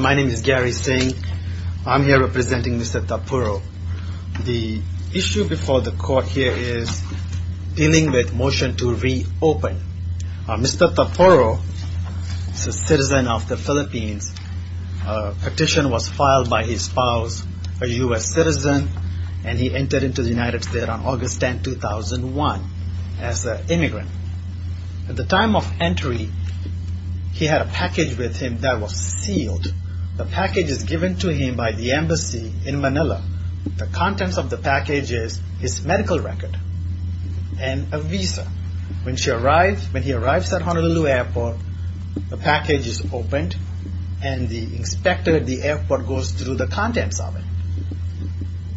My name is Gary Singh. I'm here representing Mr. Tapuro. The issue before the court here is dealing with motion to reopen. Mr. Tapuro is a citizen of the Philippines. A petition was filed by his spouse, a U.S. citizen, and he entered into the United States on August 10, 2001 as an immigrant. At the time of entry, he had a package with him that was sealed. The package is given to him by the embassy in Manila. The contents of the package is his medical record and a visa. When he arrives at Honolulu Airport, the package is opened and the inspector at the airport goes through the contents of it.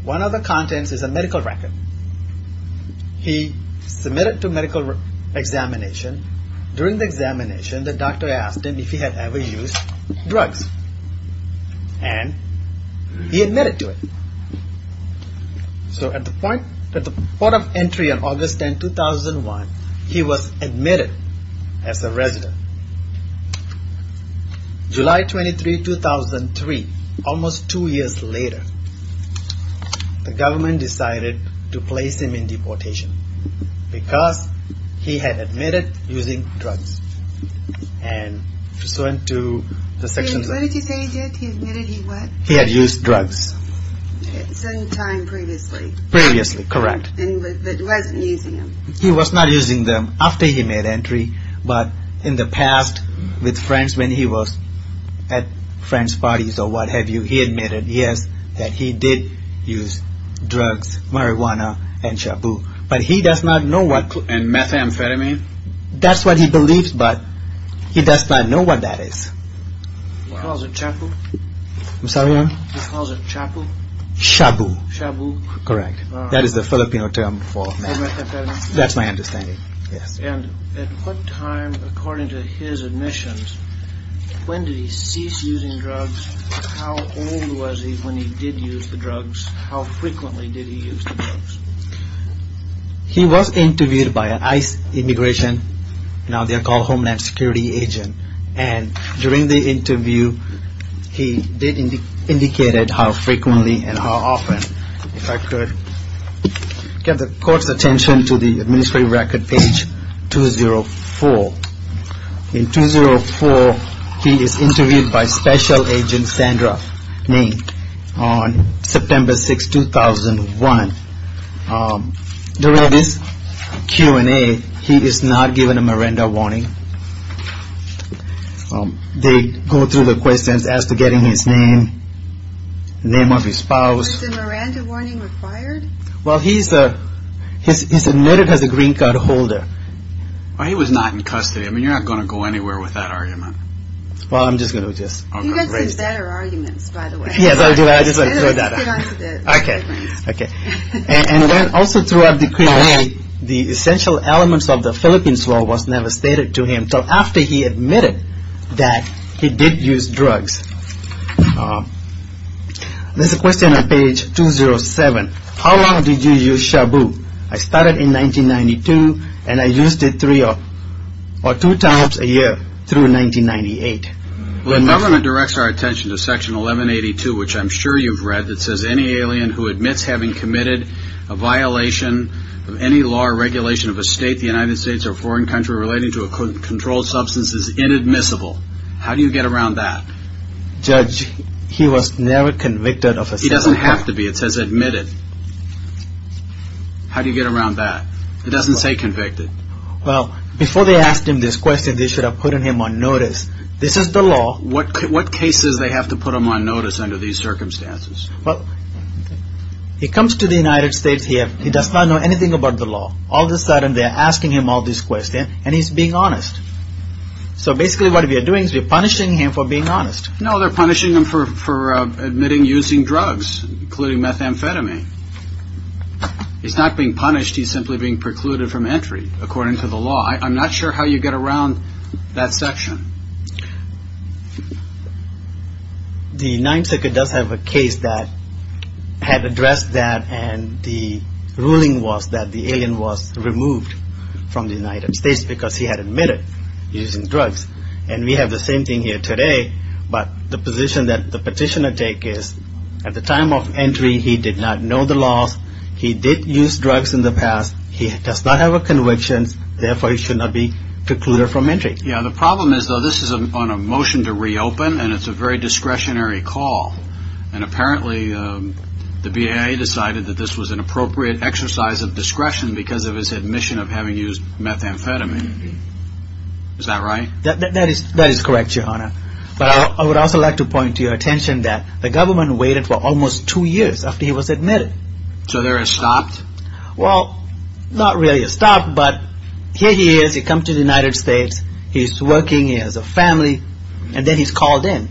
One of the contents is a medical record. He submitted to medical examination. During the examination, the doctor asked him if he had ever used drugs and he admitted to it. So at the point of entry on July 23, 2003, almost two years later, the government decided to place him in deportation because he had admitted using drugs. He had used drugs. He was not using them after he was at friends' parties or what have you. He admitted, yes, that he did use drugs, marijuana, and shabu. But he does not know what... And methamphetamine? That's what he believes, but he does not know what that is. He calls it chapu? I'm sorry? He calls it chapu? Shabu. Shabu. Correct. That is the Filipino term for meth. For methamphetamine? That's my understanding. Yes. And at what time, according to his admissions, when did he cease using drugs? How old was he when he did use the drugs? How frequently did he use the drugs? He was interviewed by ICE Immigration, now they are called Homeland Security Agent. And during the interview, he did indicate how frequently and how often. If I could get the court's attention to the administrative record, page 204. In 204, he is interviewed by Special Agent Sandra Ng on September 6, 2001. During this Q&A, he is not given a Miranda warning. They go through the questions as to getting his name, name of his spouse. Was the Miranda warning required? Well, he's admitted as a green card holder. He was not in custody. I mean, you're not going to go anywhere with that argument. Well, I'm just going to just... You've got some better arguments, by the way. Yes, I do. I just want to throw that out. Okay. Okay. And then also throughout the Q&A, the essential elements of the Philippines law was never stated to him until after he admitted that he did use drugs. There's a question. How long did you use shabu? I started in 1992, and I used it three or two times a year through 1998. The government directs our attention to Section 1182, which I'm sure you've read, that says any alien who admits having committed a violation of any law or regulation of a state, the United States, or foreign country relating to a controlled substance is inadmissible. How do you get around that? Judge, he was never convicted of a... He doesn't have to be. It says admitted. How do you get around that? It doesn't say convicted. Well, before they asked him this question, they should have put him on notice. This is the law. What cases they have to put him on notice under these circumstances? Well, he comes to the United States. He does not know anything about the law. All of a sudden, they're asking him all these questions, and he's being honest. So basically what we are doing is we're punishing him for being honest. No, they're punishing him for admitting using drugs, including methamphetamine. He's not being punished. He's simply being precluded from entry according to the law. I'm not sure how you get around that section. The Ninth Circuit does have a case that had addressed that, and the ruling was that the alien was removed from the United States because he had admitted using drugs. And we have the petitioner take his... At the time of entry, he did not know the laws. He did use drugs in the past. He does not have a conviction. Therefore, he should not be precluded from entry. Yeah, the problem is, though, this is on a motion to reopen, and it's a very discretionary call. And apparently, the BIA decided that this was an appropriate exercise of discretion because of his admission of having used methamphetamine. Is that right? That is correct, Your Honor. But I would also like to point to your attention that the government waited for almost two years after he was admitted. So they're stopped? Well, not really stopped, but here he is. He comes to the United States. He's working. He has a family. And then he's called in.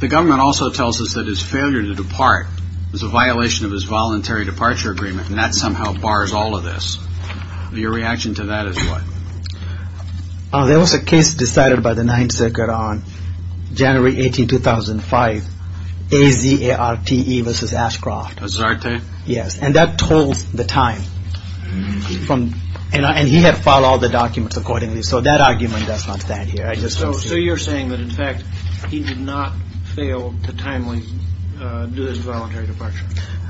The government also tells us that his failure to depart is a violation of his voluntary departure agreement, and that somehow bars all of this. Your reaction to that is what? There was a case decided by the Ninth Circuit on January 18, 2005, AZARTE versus Ashcroft. AZARTE? Yes, and that tolls the time. And he had filed all the documents accordingly, so that argument does not stand here. So you're saying that, in fact, he did not fail to timely do his voluntary departure?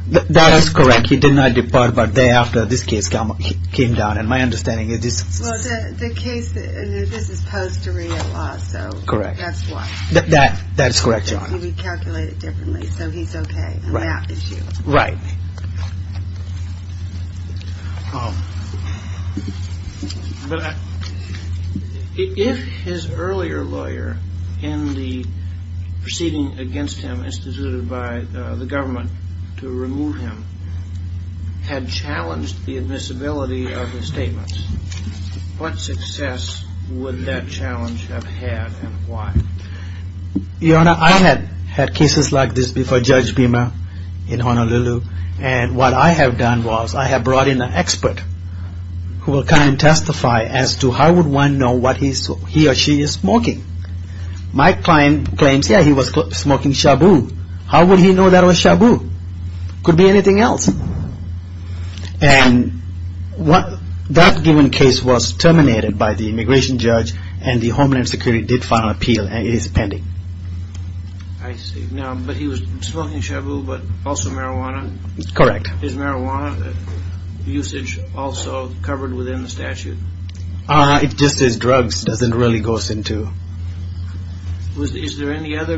That is correct. He did not depart, but the day after this case came down, and my understanding is this... Well, the case, this is post-arreal law, so that's why. That's correct, Your Honor. He calculated differently, so he's okay on that issue. Right. But if his earlier lawyer in the proceeding against him instituted by the government to his statements, what success would that challenge have had and why? Your Honor, I had had cases like this before Judge Beamer in Honolulu, and what I have done was I have brought in an expert who will come and testify as to how would one know what he or she is smoking. My client claims, yeah, he was smoking shabu. How would he know that was shabu? Could be anything else. And that given case was terminated by the immigration judge, and the Homeland Security did file an appeal, and it is pending. I see. Now, but he was smoking shabu, but also marijuana? Correct. Is marijuana usage also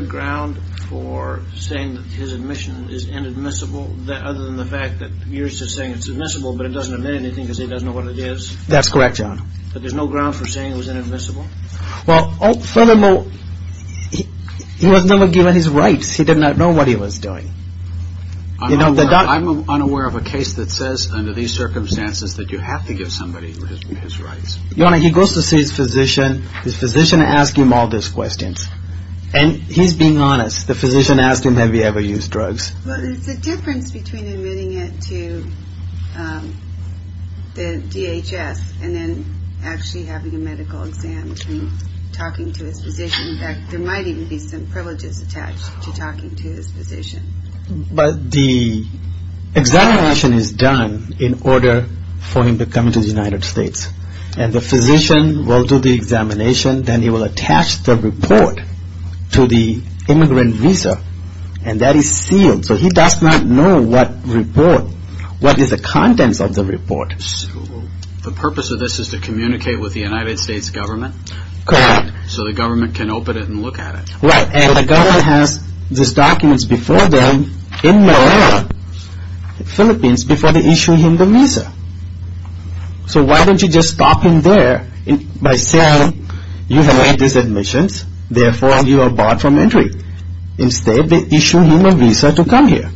ground for saying that his admission is inadmissible, other than the fact that yours is saying it's admissible, but it doesn't admit anything because he doesn't know what it is? That's correct, Your Honor. But there's no ground for saying it was inadmissible? Well, furthermore, he wasn't even given his rights. He did not know what he was doing. I'm unaware of a case that says under these circumstances that you have to give somebody his rights. Your Honor, he goes to see his physician, his physician asks him all those questions, and he's being honest. The physician asks him, have you ever used drugs? Well, there's a difference between admitting it to the DHS and then actually having a medical exam and talking to his physician. In fact, there might even be some privileges attached to talking to his physician. But the examination is done in order for him to come to the United States, and the physician will do the report to the immigrant visa, and that is sealed. So he does not know what report, what is the contents of the report. So the purpose of this is to communicate with the United States government? Correct. So the government can open it and look at it? Right, and the government has these documents before them in Malaya, the Philippines, before they issue him the visa. So why don't you just stop him there by saying you have had these admissions, therefore you are barred from entry. Instead, they issue him a visa to come here.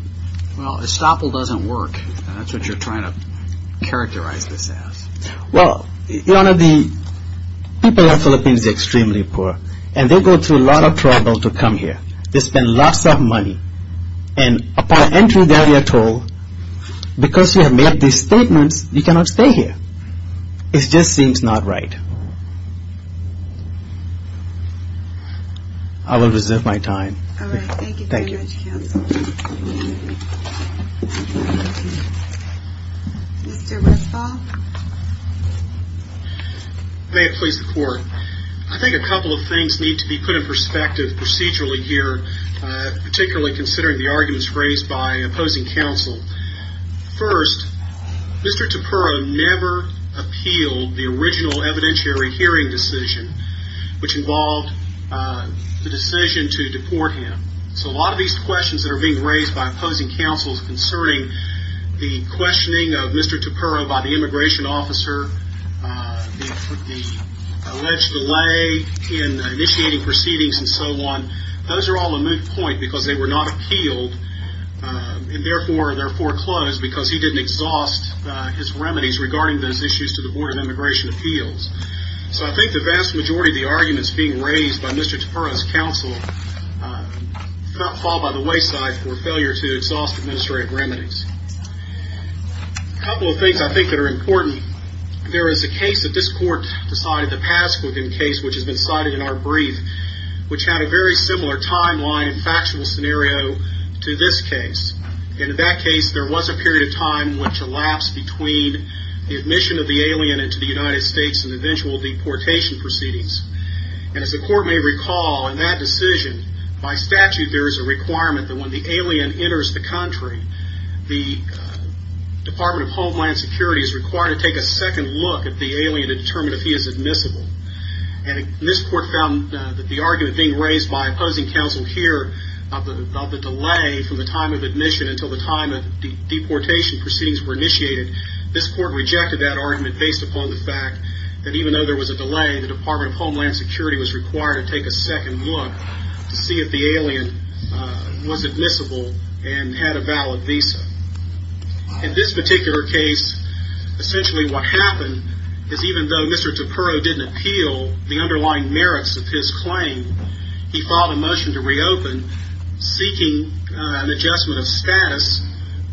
Well, estoppel doesn't work, and that's what you're trying to characterize this as. Well, Your Honor, the people in the Philippines are extremely poor, and they go through a lot of trouble to come here. They spend lots of money, and upon entry they are told, because you have made these statements, you cannot stay here. It just seems not right. I will reserve my time. All right. Thank you very much, counsel. Mr. Westphal. May it please the Court. I think a couple of things need to be put in perspective procedurally here, particularly considering the original evidentiary hearing decision, which involved the decision to deport him. So a lot of these questions that are being raised by opposing counsels concerning the questioning of Mr. Tupero by the immigration officer, the alleged delay in initiating proceedings and so on, those are all a moot point because they were not appealed, and therefore they're foreclosed because he didn't exhaust his remedies regarding those issues to the Board of Immigration Appeals. So I think the vast majority of the arguments being raised by Mr. Tupero's counsel fall by the wayside for failure to exhaust administrative remedies. A couple of things I think that are important. There is a case that this Court decided to pass with him, a case which has been cited in our brief, which had a very similar timeline and factual scenario to this case. And in that case, there was a period of time which elapsed between the admission of the alien into the United States and eventual deportation proceedings. And as the Court may recall, in that decision, by statute there is a requirement that when the alien enters the country, the Department of Homeland Security is required to take a second look at the alien to determine if he is admissible. And this Court found that the argument being raised by opposing counsel here about the delay from the time of admission until the time of deportation proceedings were initiated, this Court rejected that argument based upon the fact that even though there was a delay, the Department of Homeland Security was required to take a second look to see if the alien was admissible and had a valid visa. In this particular case, essentially what happened is even though Mr. Tupero didn't appeal the underlying merits of his claim, he filed a motion to reopen seeking an adjustment of status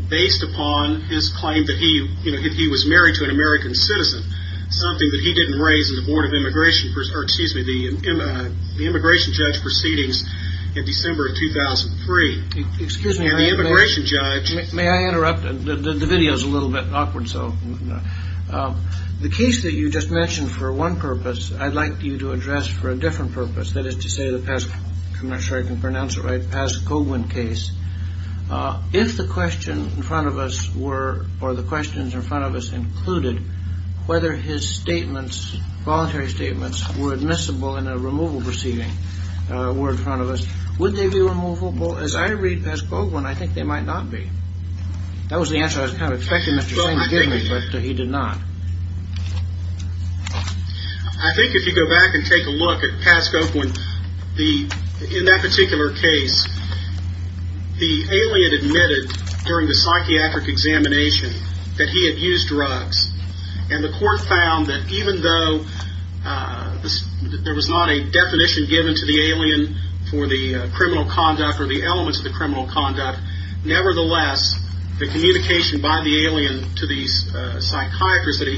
based upon his claim that he was married to an American citizen, something that he didn't raise in the Board of Immigration, or excuse me, the Immigration Judge Proceedings in December of 2003. Excuse me. The Immigration Judge. May I interrupt? The video is a little bit awkward. So the case that you just mentioned for one purpose, I'd like you to address for a different purpose, that is to say the past, I'm not sure I can pronounce it right, past Coghlan case. If the question in front of us were, or the questions in front of us included whether his statements, voluntary statements were admissible in a removal proceeding were in front of us, would they be removable? As I read past Coghlan, I think they might not be. That was the answer I was kind of expecting, but he did not. I think if you go back and take a look at past Coghlan, in that particular case, the alien admitted during the psychiatric examination that he had used drugs, and the court found that even though there was not a definition given to the alien for the criminal conduct or the elements of the criminal conduct, nevertheless, the communication by the alien to these psychiatrists that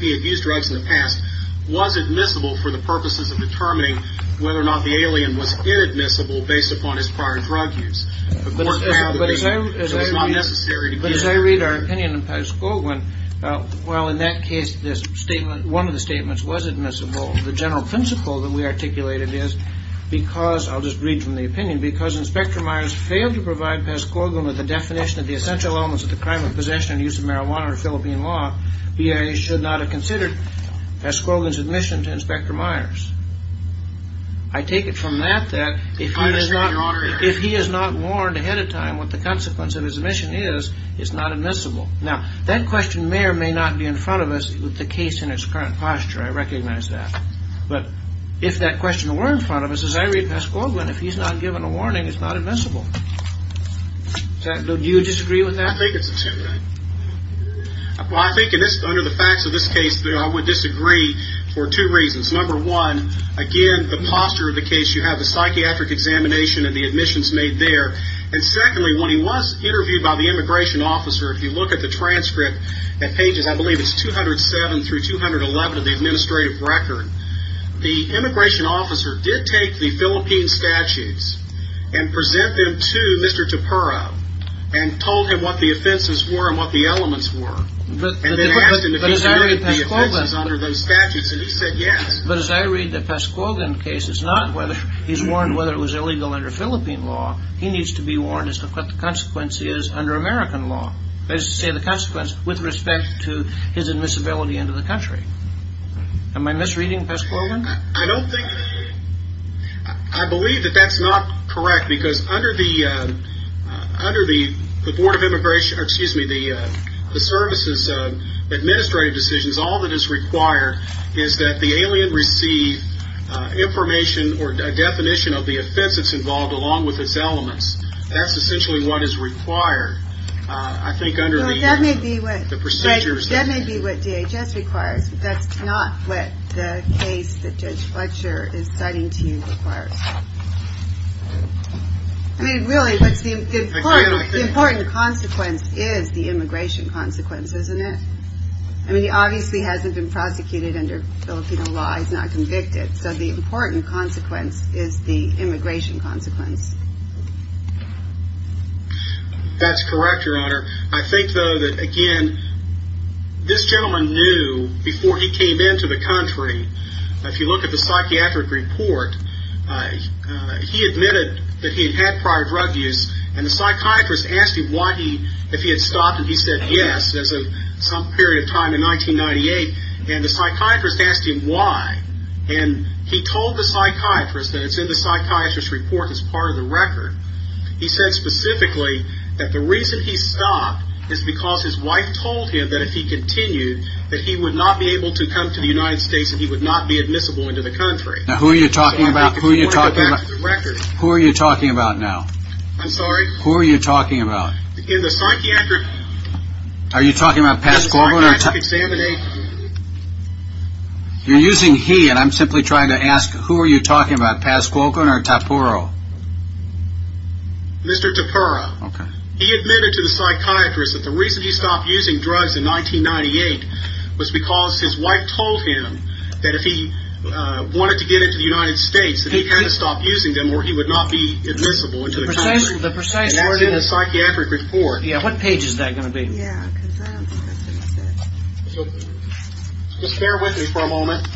he had used drugs in the past was admissible for the purposes of determining whether or not the alien was inadmissible based upon his prior drug use. But as I read our opinion in past Coghlan, while in that case, one of the statements was admissible, the general principle that we articulated is because, I'll just read from the opinion, because Inspector Myers failed to provide past Coghlan with the definition of the essential elements of the crime of possession and use of marijuana under Philippine law, BIA should not have considered past Coghlan's admission to Inspector Myers. I take it from that that if he is not warned ahead of time what the consequence of his admission is, it's not admissible. Now, that question may or may not be in front of us with the case in its current posture. I recognize that. But if that question were in front of us, as I read past Coghlan, if he's not given a warning, it's not admissible. Do you disagree with that? I think it's intended. Well, I think under the facts of this case, I would disagree for two reasons. Number one, again, the posture of the case, you have the psychiatric examination and the admissions made there. And secondly, when he was interviewed by the immigration officer, if you look at the transcript at pages, I believe it's 207 through 211 of the administrative record, the immigration officer did take the Philippine statutes and present them to Mr. Tapero and told him what the offenses were and what the elements were. But as I read past Coghlan, but as I read the past Coghlan case, it's not whether he's warned whether it was illegal under Philippine law. He needs to be warned as to what the consequence is under American law. They say the consequence with respect to his admissibility into the country. Am I misreading past Coghlan? I don't think. I believe that that's not correct because under the Board of Immigration, excuse me, the services of administrative decisions, all that is required is that the alien receive information or a definition of the offense that's involved along with its elements. That's essentially what is required. I think under the procedures. That may be what DHS requires. That's not what the case that Judge Fletcher is citing to you requires. I mean, really, what's the important consequence is the immigration consequences, isn't it? I mean, he obviously hasn't been prosecuted under Filipino law. He's not convicted. So the important consequence is the immigration consequence. That's correct, Your Honor. I think, though, that, again, this gentleman knew before he came into the country, if you look at the psychiatric report, he admitted that he had had prior drug use, and the psychiatrist asked him if he had stopped, and he said yes, as of some period of time in 1998. And the psychiatrist asked him why. And he told the psychiatrist that it's in the psychiatrist's report as part of the record. He said specifically that the reason he stopped is because his wife told him that if he continued, that he would not be able to come to the United States and he would not be admissible into the country. Now, who are you talking about? Who are you talking about? Who are you talking about now? I'm sorry? Who are you talking about? In the psychiatric… Are you talking about Pascuoco? In the psychiatric examination. You're using he, and I'm simply trying to ask, who are you talking about, Pascuoco or Tapura? Mr. Tapura. Okay. He admitted to the psychiatrist that the reason he stopped using drugs in 1998 was because his wife told him that if he wanted to get into the United States, that he had to stop using them or he would not be admissible into the country. The precise… And that's in the psychiatric report. Yeah, what page is that going to be? Yeah, because that's what it said. Just bear with me for a moment.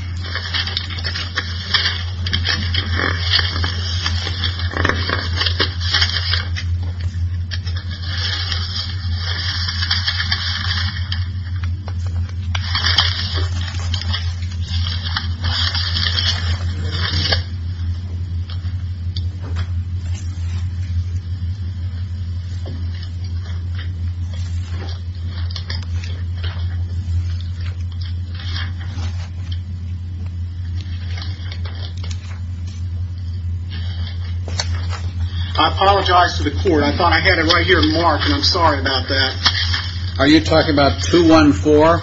I apologize to the court. I thought I had it right here marked, and I'm sorry about that. Are you talking about 214?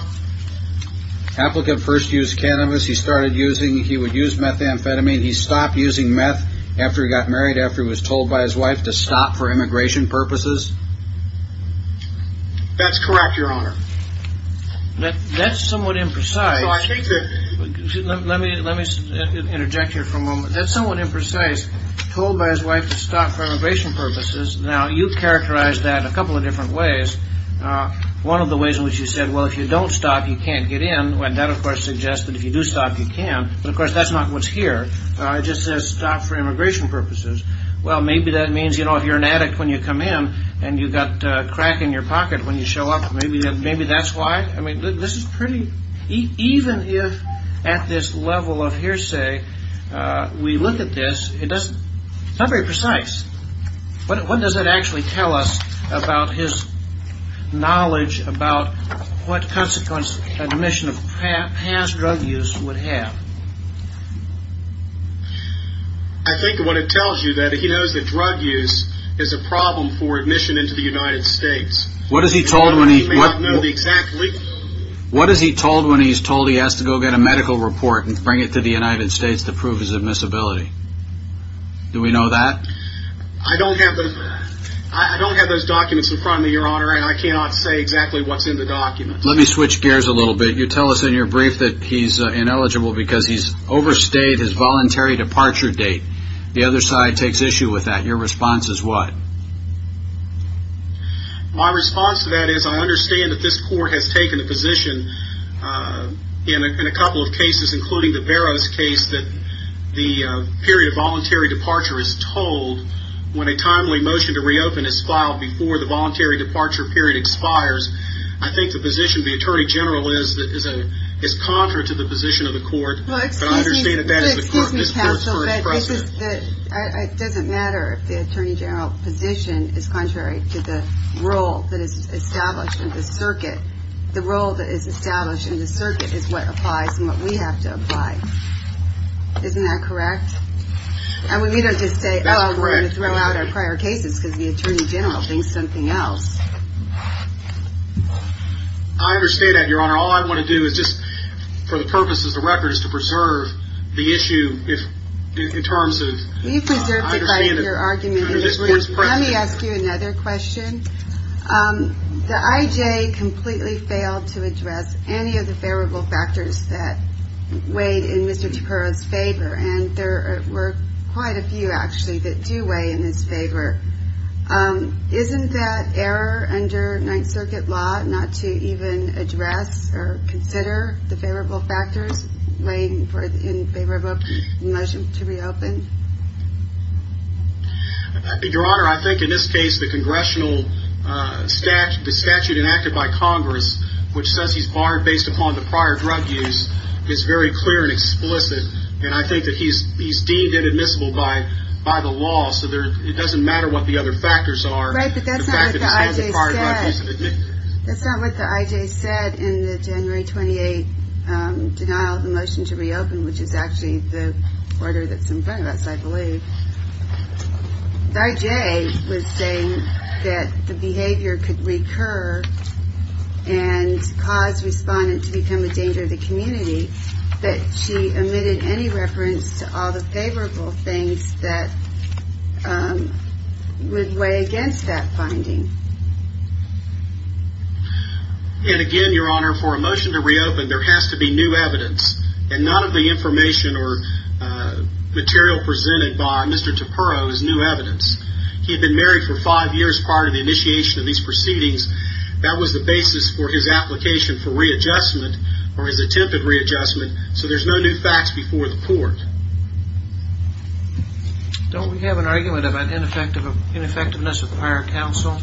Applicant first used cannabis. He started using, he would use methamphetamine. He stopped using meth after he got married, after he was told by his wife to stop for immigration purposes. That's correct, Your Honor. That's somewhat imprecise. Let me interject here for a moment. That's somewhat imprecise, told by his wife to stop for immigration purposes. Now, you characterized that a couple of different ways. One of the ways in which you said, well, if you don't stop, you can't get in. That, of course, suggests that if you do stop, you can. But, of course, that's not what's here. It just says stop for immigration purposes. Well, maybe that means, you know, if you're an addict when you come in and you've got a crack in your pocket when you show up, maybe that's why. I mean, this is pretty, even if at this level of hearsay we look at this, it's not very precise. What does that actually tell us about his knowledge about what consequence admission of past drug use would have? I think what it tells you that he knows that drug use is a problem for admission into the United States. What is he told when he's told he has to go get a medical report and bring it to the United States to prove his admissibility? Do we know that? I don't have those documents in front of me, Your Honor, and I cannot say exactly what's in the documents. Let me switch gears a little bit. You tell us in your brief that he's ineligible because he's overstayed his voluntary departure date. The other side takes issue with that. Your response is what? My response to that is I understand that this court has taken a position in a couple of cases, including the Barrows case, that the period of voluntary departure is told when a timely motion to reopen is filed before the voluntary departure period expires. I think the position of the Attorney General is contrary to the position of the court. Well, excuse me, counsel, but it doesn't matter if the Attorney General position is contrary to the role that is established in the circuit. The role that is established in the circuit is what applies and what we have to apply. Isn't that correct? And we don't just say, oh, we're going to throw out our prior cases because the Attorney General thinks something else. I understand that, Your Honor. All I want to do is just, for the purposes of the record, is to preserve the issue in terms of understanding. We've preserved it by your argument. Let me ask you another question. The I.J. completely failed to address any of the favorable factors that weighed in Mr. DiPero's favor, and there were quite a few, actually, that do weigh in his favor. Isn't that error under Ninth Circuit law not to even address or consider the favorable factors laying in favor of a motion to reopen? Your Honor, I think in this case the congressional statute enacted by Congress, which says he's barred based upon the prior drug use, is very clear and explicit, and I think that he's deemed inadmissible by the law, so it doesn't matter what the other factors are. Right, but that's not what the I.J. said. That's not what the I.J. said in the January 28th denial of the motion to reopen, which is actually the order that's in front of us, I believe. The I.J. was saying that the behavior could recur and cause respondents to become a danger to the community, but she omitted any reference to all the favorable things that would weigh against that finding. And again, Your Honor, for a motion to reopen, there has to be new evidence, and none of the information or material presented by Mr. Taperro is new evidence. He had been married for five years prior to the initiation of these proceedings. That was the basis for his application for readjustment or his attempt at readjustment, so there's no new facts before the court. Don't we have an argument about ineffectiveness with prior counsel?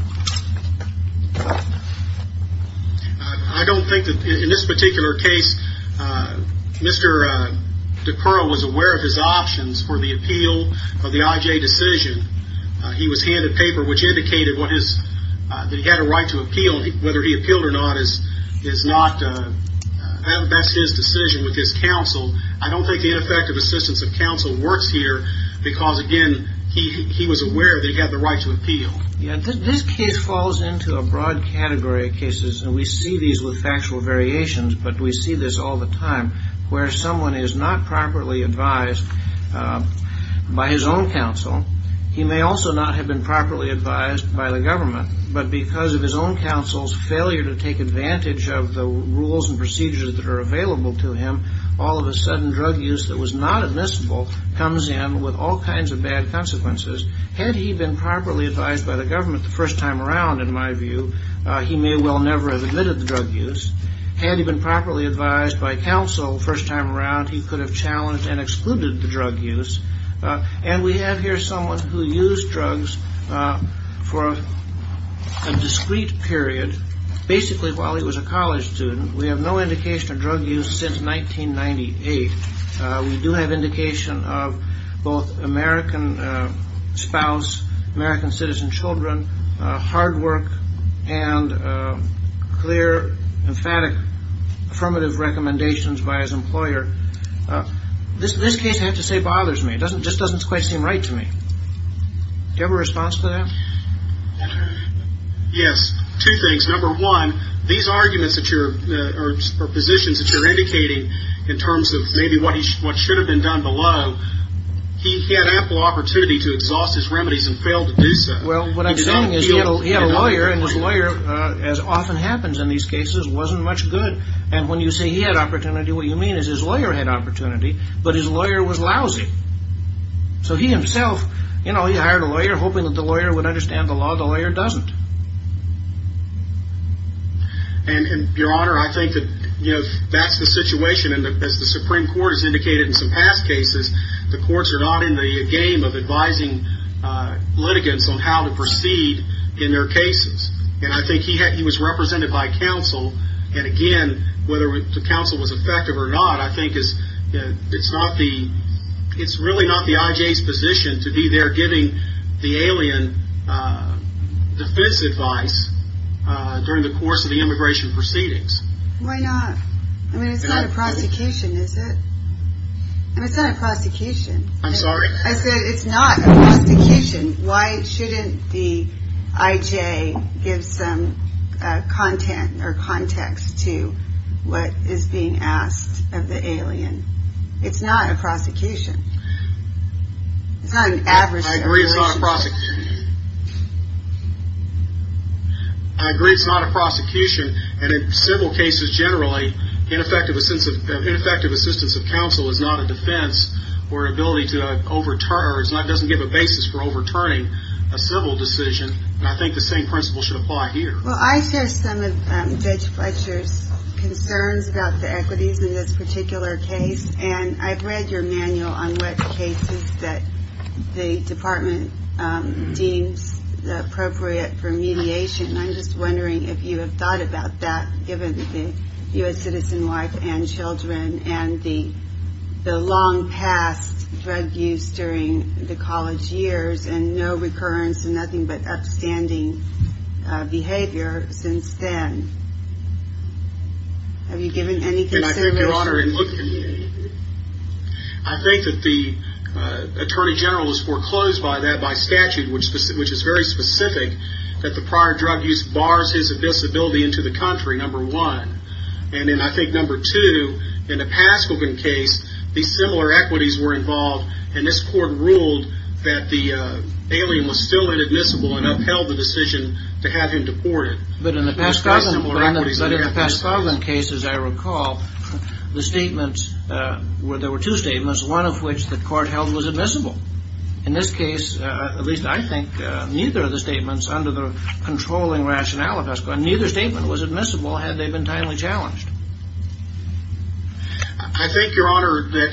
I don't think that in this particular case Mr. Taperro was aware of his options for the appeal of the I.J. decision. He was handed paper which indicated that he had a right to appeal. Whether he appealed or not, that's his decision with his counsel. I don't think the ineffective assistance of counsel works here because, again, he was aware that he had the right to appeal. This case falls into a broad category of cases, and we see these with factual variations, but we see this all the time where someone is not properly advised by his own counsel. He may also not have been properly advised by the government, but because of his own counsel's failure to take advantage of the rules and procedures that are available to him, all of a sudden drug use that was not admissible comes in with all kinds of bad consequences. Had he been properly advised by the government the first time around, in my view, he may well never have admitted the drug use. Had he been properly advised by counsel the first time around, he could have challenged and excluded the drug use. And we have here someone who used drugs for a discrete period, basically while he was a college student. We have no indication of drug use since 1998. We do have indication of both American spouse, American citizen children, hard work and clear, emphatic, affirmative recommendations by his employer. This case, I have to say, bothers me. It just doesn't quite seem right to me. Do you have a response to that? Yes. Two things. Number one, these arguments or positions that you're indicating in terms of maybe what should have been done below, he had ample opportunity to exhaust his remedies and failed to do so. Well, what I'm saying is he had a lawyer, and his lawyer, as often happens in these cases, wasn't much good. And when you say he had opportunity, what you mean is his lawyer had opportunity, but his lawyer was lousy. So he himself, you know, he hired a lawyer hoping that the lawyer would understand the law. The lawyer doesn't. And, Your Honor, I think that, you know, that's the situation. And as the Supreme Court has indicated in some past cases, the courts are not in the game of advising litigants on how to proceed in their cases. And I think he was represented by counsel. And again, whether the counsel was effective or not, I think it's not the, it's really not the IJ's position to be there giving the alien defense advice during the course of the immigration proceedings. Why not? I mean, it's not a prosecution, is it? I mean, it's not a prosecution. I'm sorry? I said it's not a prosecution. Why shouldn't the IJ give some content or context to what is being asked of the alien? It's not a prosecution. It's not an adverse situation. I agree it's not a prosecution. I agree it's not a prosecution. And in civil cases generally, ineffective assistance of counsel is not a defense or ability to overturn or doesn't give a basis for overturning a civil decision. And I think the same principle should apply here. Well, I share some of Judge Fletcher's concerns about the equities in this particular case. And I've read your manual on what cases that the department deems appropriate for mediation. And I'm just wondering if you have thought about that, given the U.S. citizen life and children and the long past drug use during the college years and no recurrence and nothing but upstanding behavior since then. Have you given any consideration? I think that the Attorney General has foreclosed by that by statute, which is very specific, that the prior drug use bars his admissibility into the country, number one. And then I think number two, in the Paskogan case, these similar equities were involved, and this court ruled that the alien was still inadmissible and upheld the decision to have him deported. But in the Paskogan case, as I recall, the statements were, there were two statements, one of which the court held was admissible. In this case, at least I think, neither of the statements under the controlling rationale of Paskogan, neither statement was admissible had they been timely challenged. I think, Your Honor, that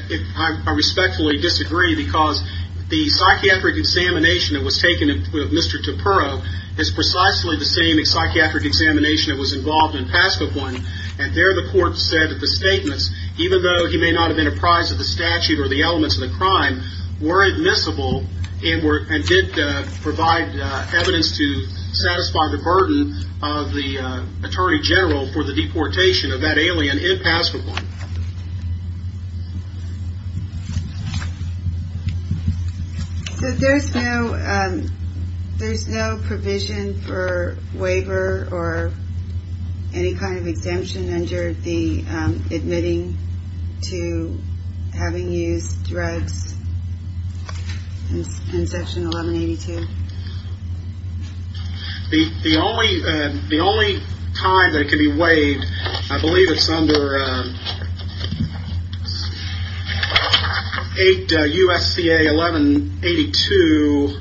I respectfully disagree because the psychiatric examination that was taken of Mr. Topero is precisely the same psychiatric examination that was involved in Paskogon. And there the court said that the statements, even though he may not have been apprised of the statute or the elements of the crime, were admissible and did provide evidence to satisfy the burden of the Attorney General for the deportation of that alien in Paskogon. So there's no provision for waiver or any kind of exemption under the admitting to having used drugs in Section 1182? The only time that it can be waived, I believe it's under 8 U.S.C.A. 1182,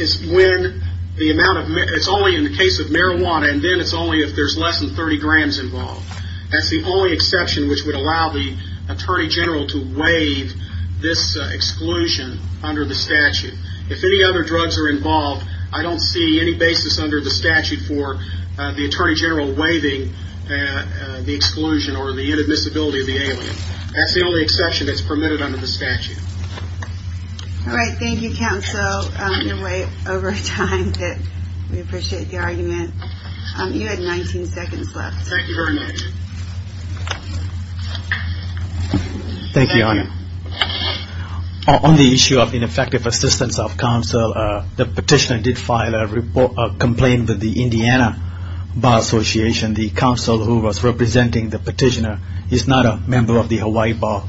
is when the amount of, it's only in the case of marijuana, and then it's only if there's less than 30 grams involved. That's the only exception which would allow the Attorney General to waive this exclusion under the statute. If any other drugs are involved, I don't see any basis under the statute for the Attorney General waiving the exclusion or the inadmissibility of the alien. That's the only exception that's permitted under the statute. All right. Thank you, Counsel. We're way over time. We appreciate the argument. You had 19 seconds left. Thank you very much. Thank you, Your Honor. On the issue of ineffective assistance of counsel, the petitioner did file a complaint with the Indiana Bar Association. The counsel who was representing the petitioner is not a member of the Hawaii Bar.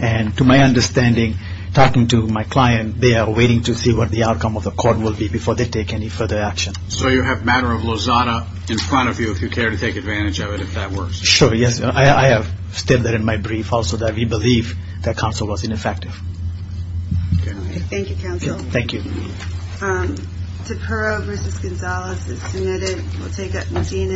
And to my understanding, talking to my client, they are waiting to see what the outcome of the court will be before they take any further action. So you have the matter of Lozada in front of you, if you care to take advantage of it, if that works. Sure, yes. I have stated that in my brief also that we believe that counsel was ineffective. Thank you, Counsel. Thank you.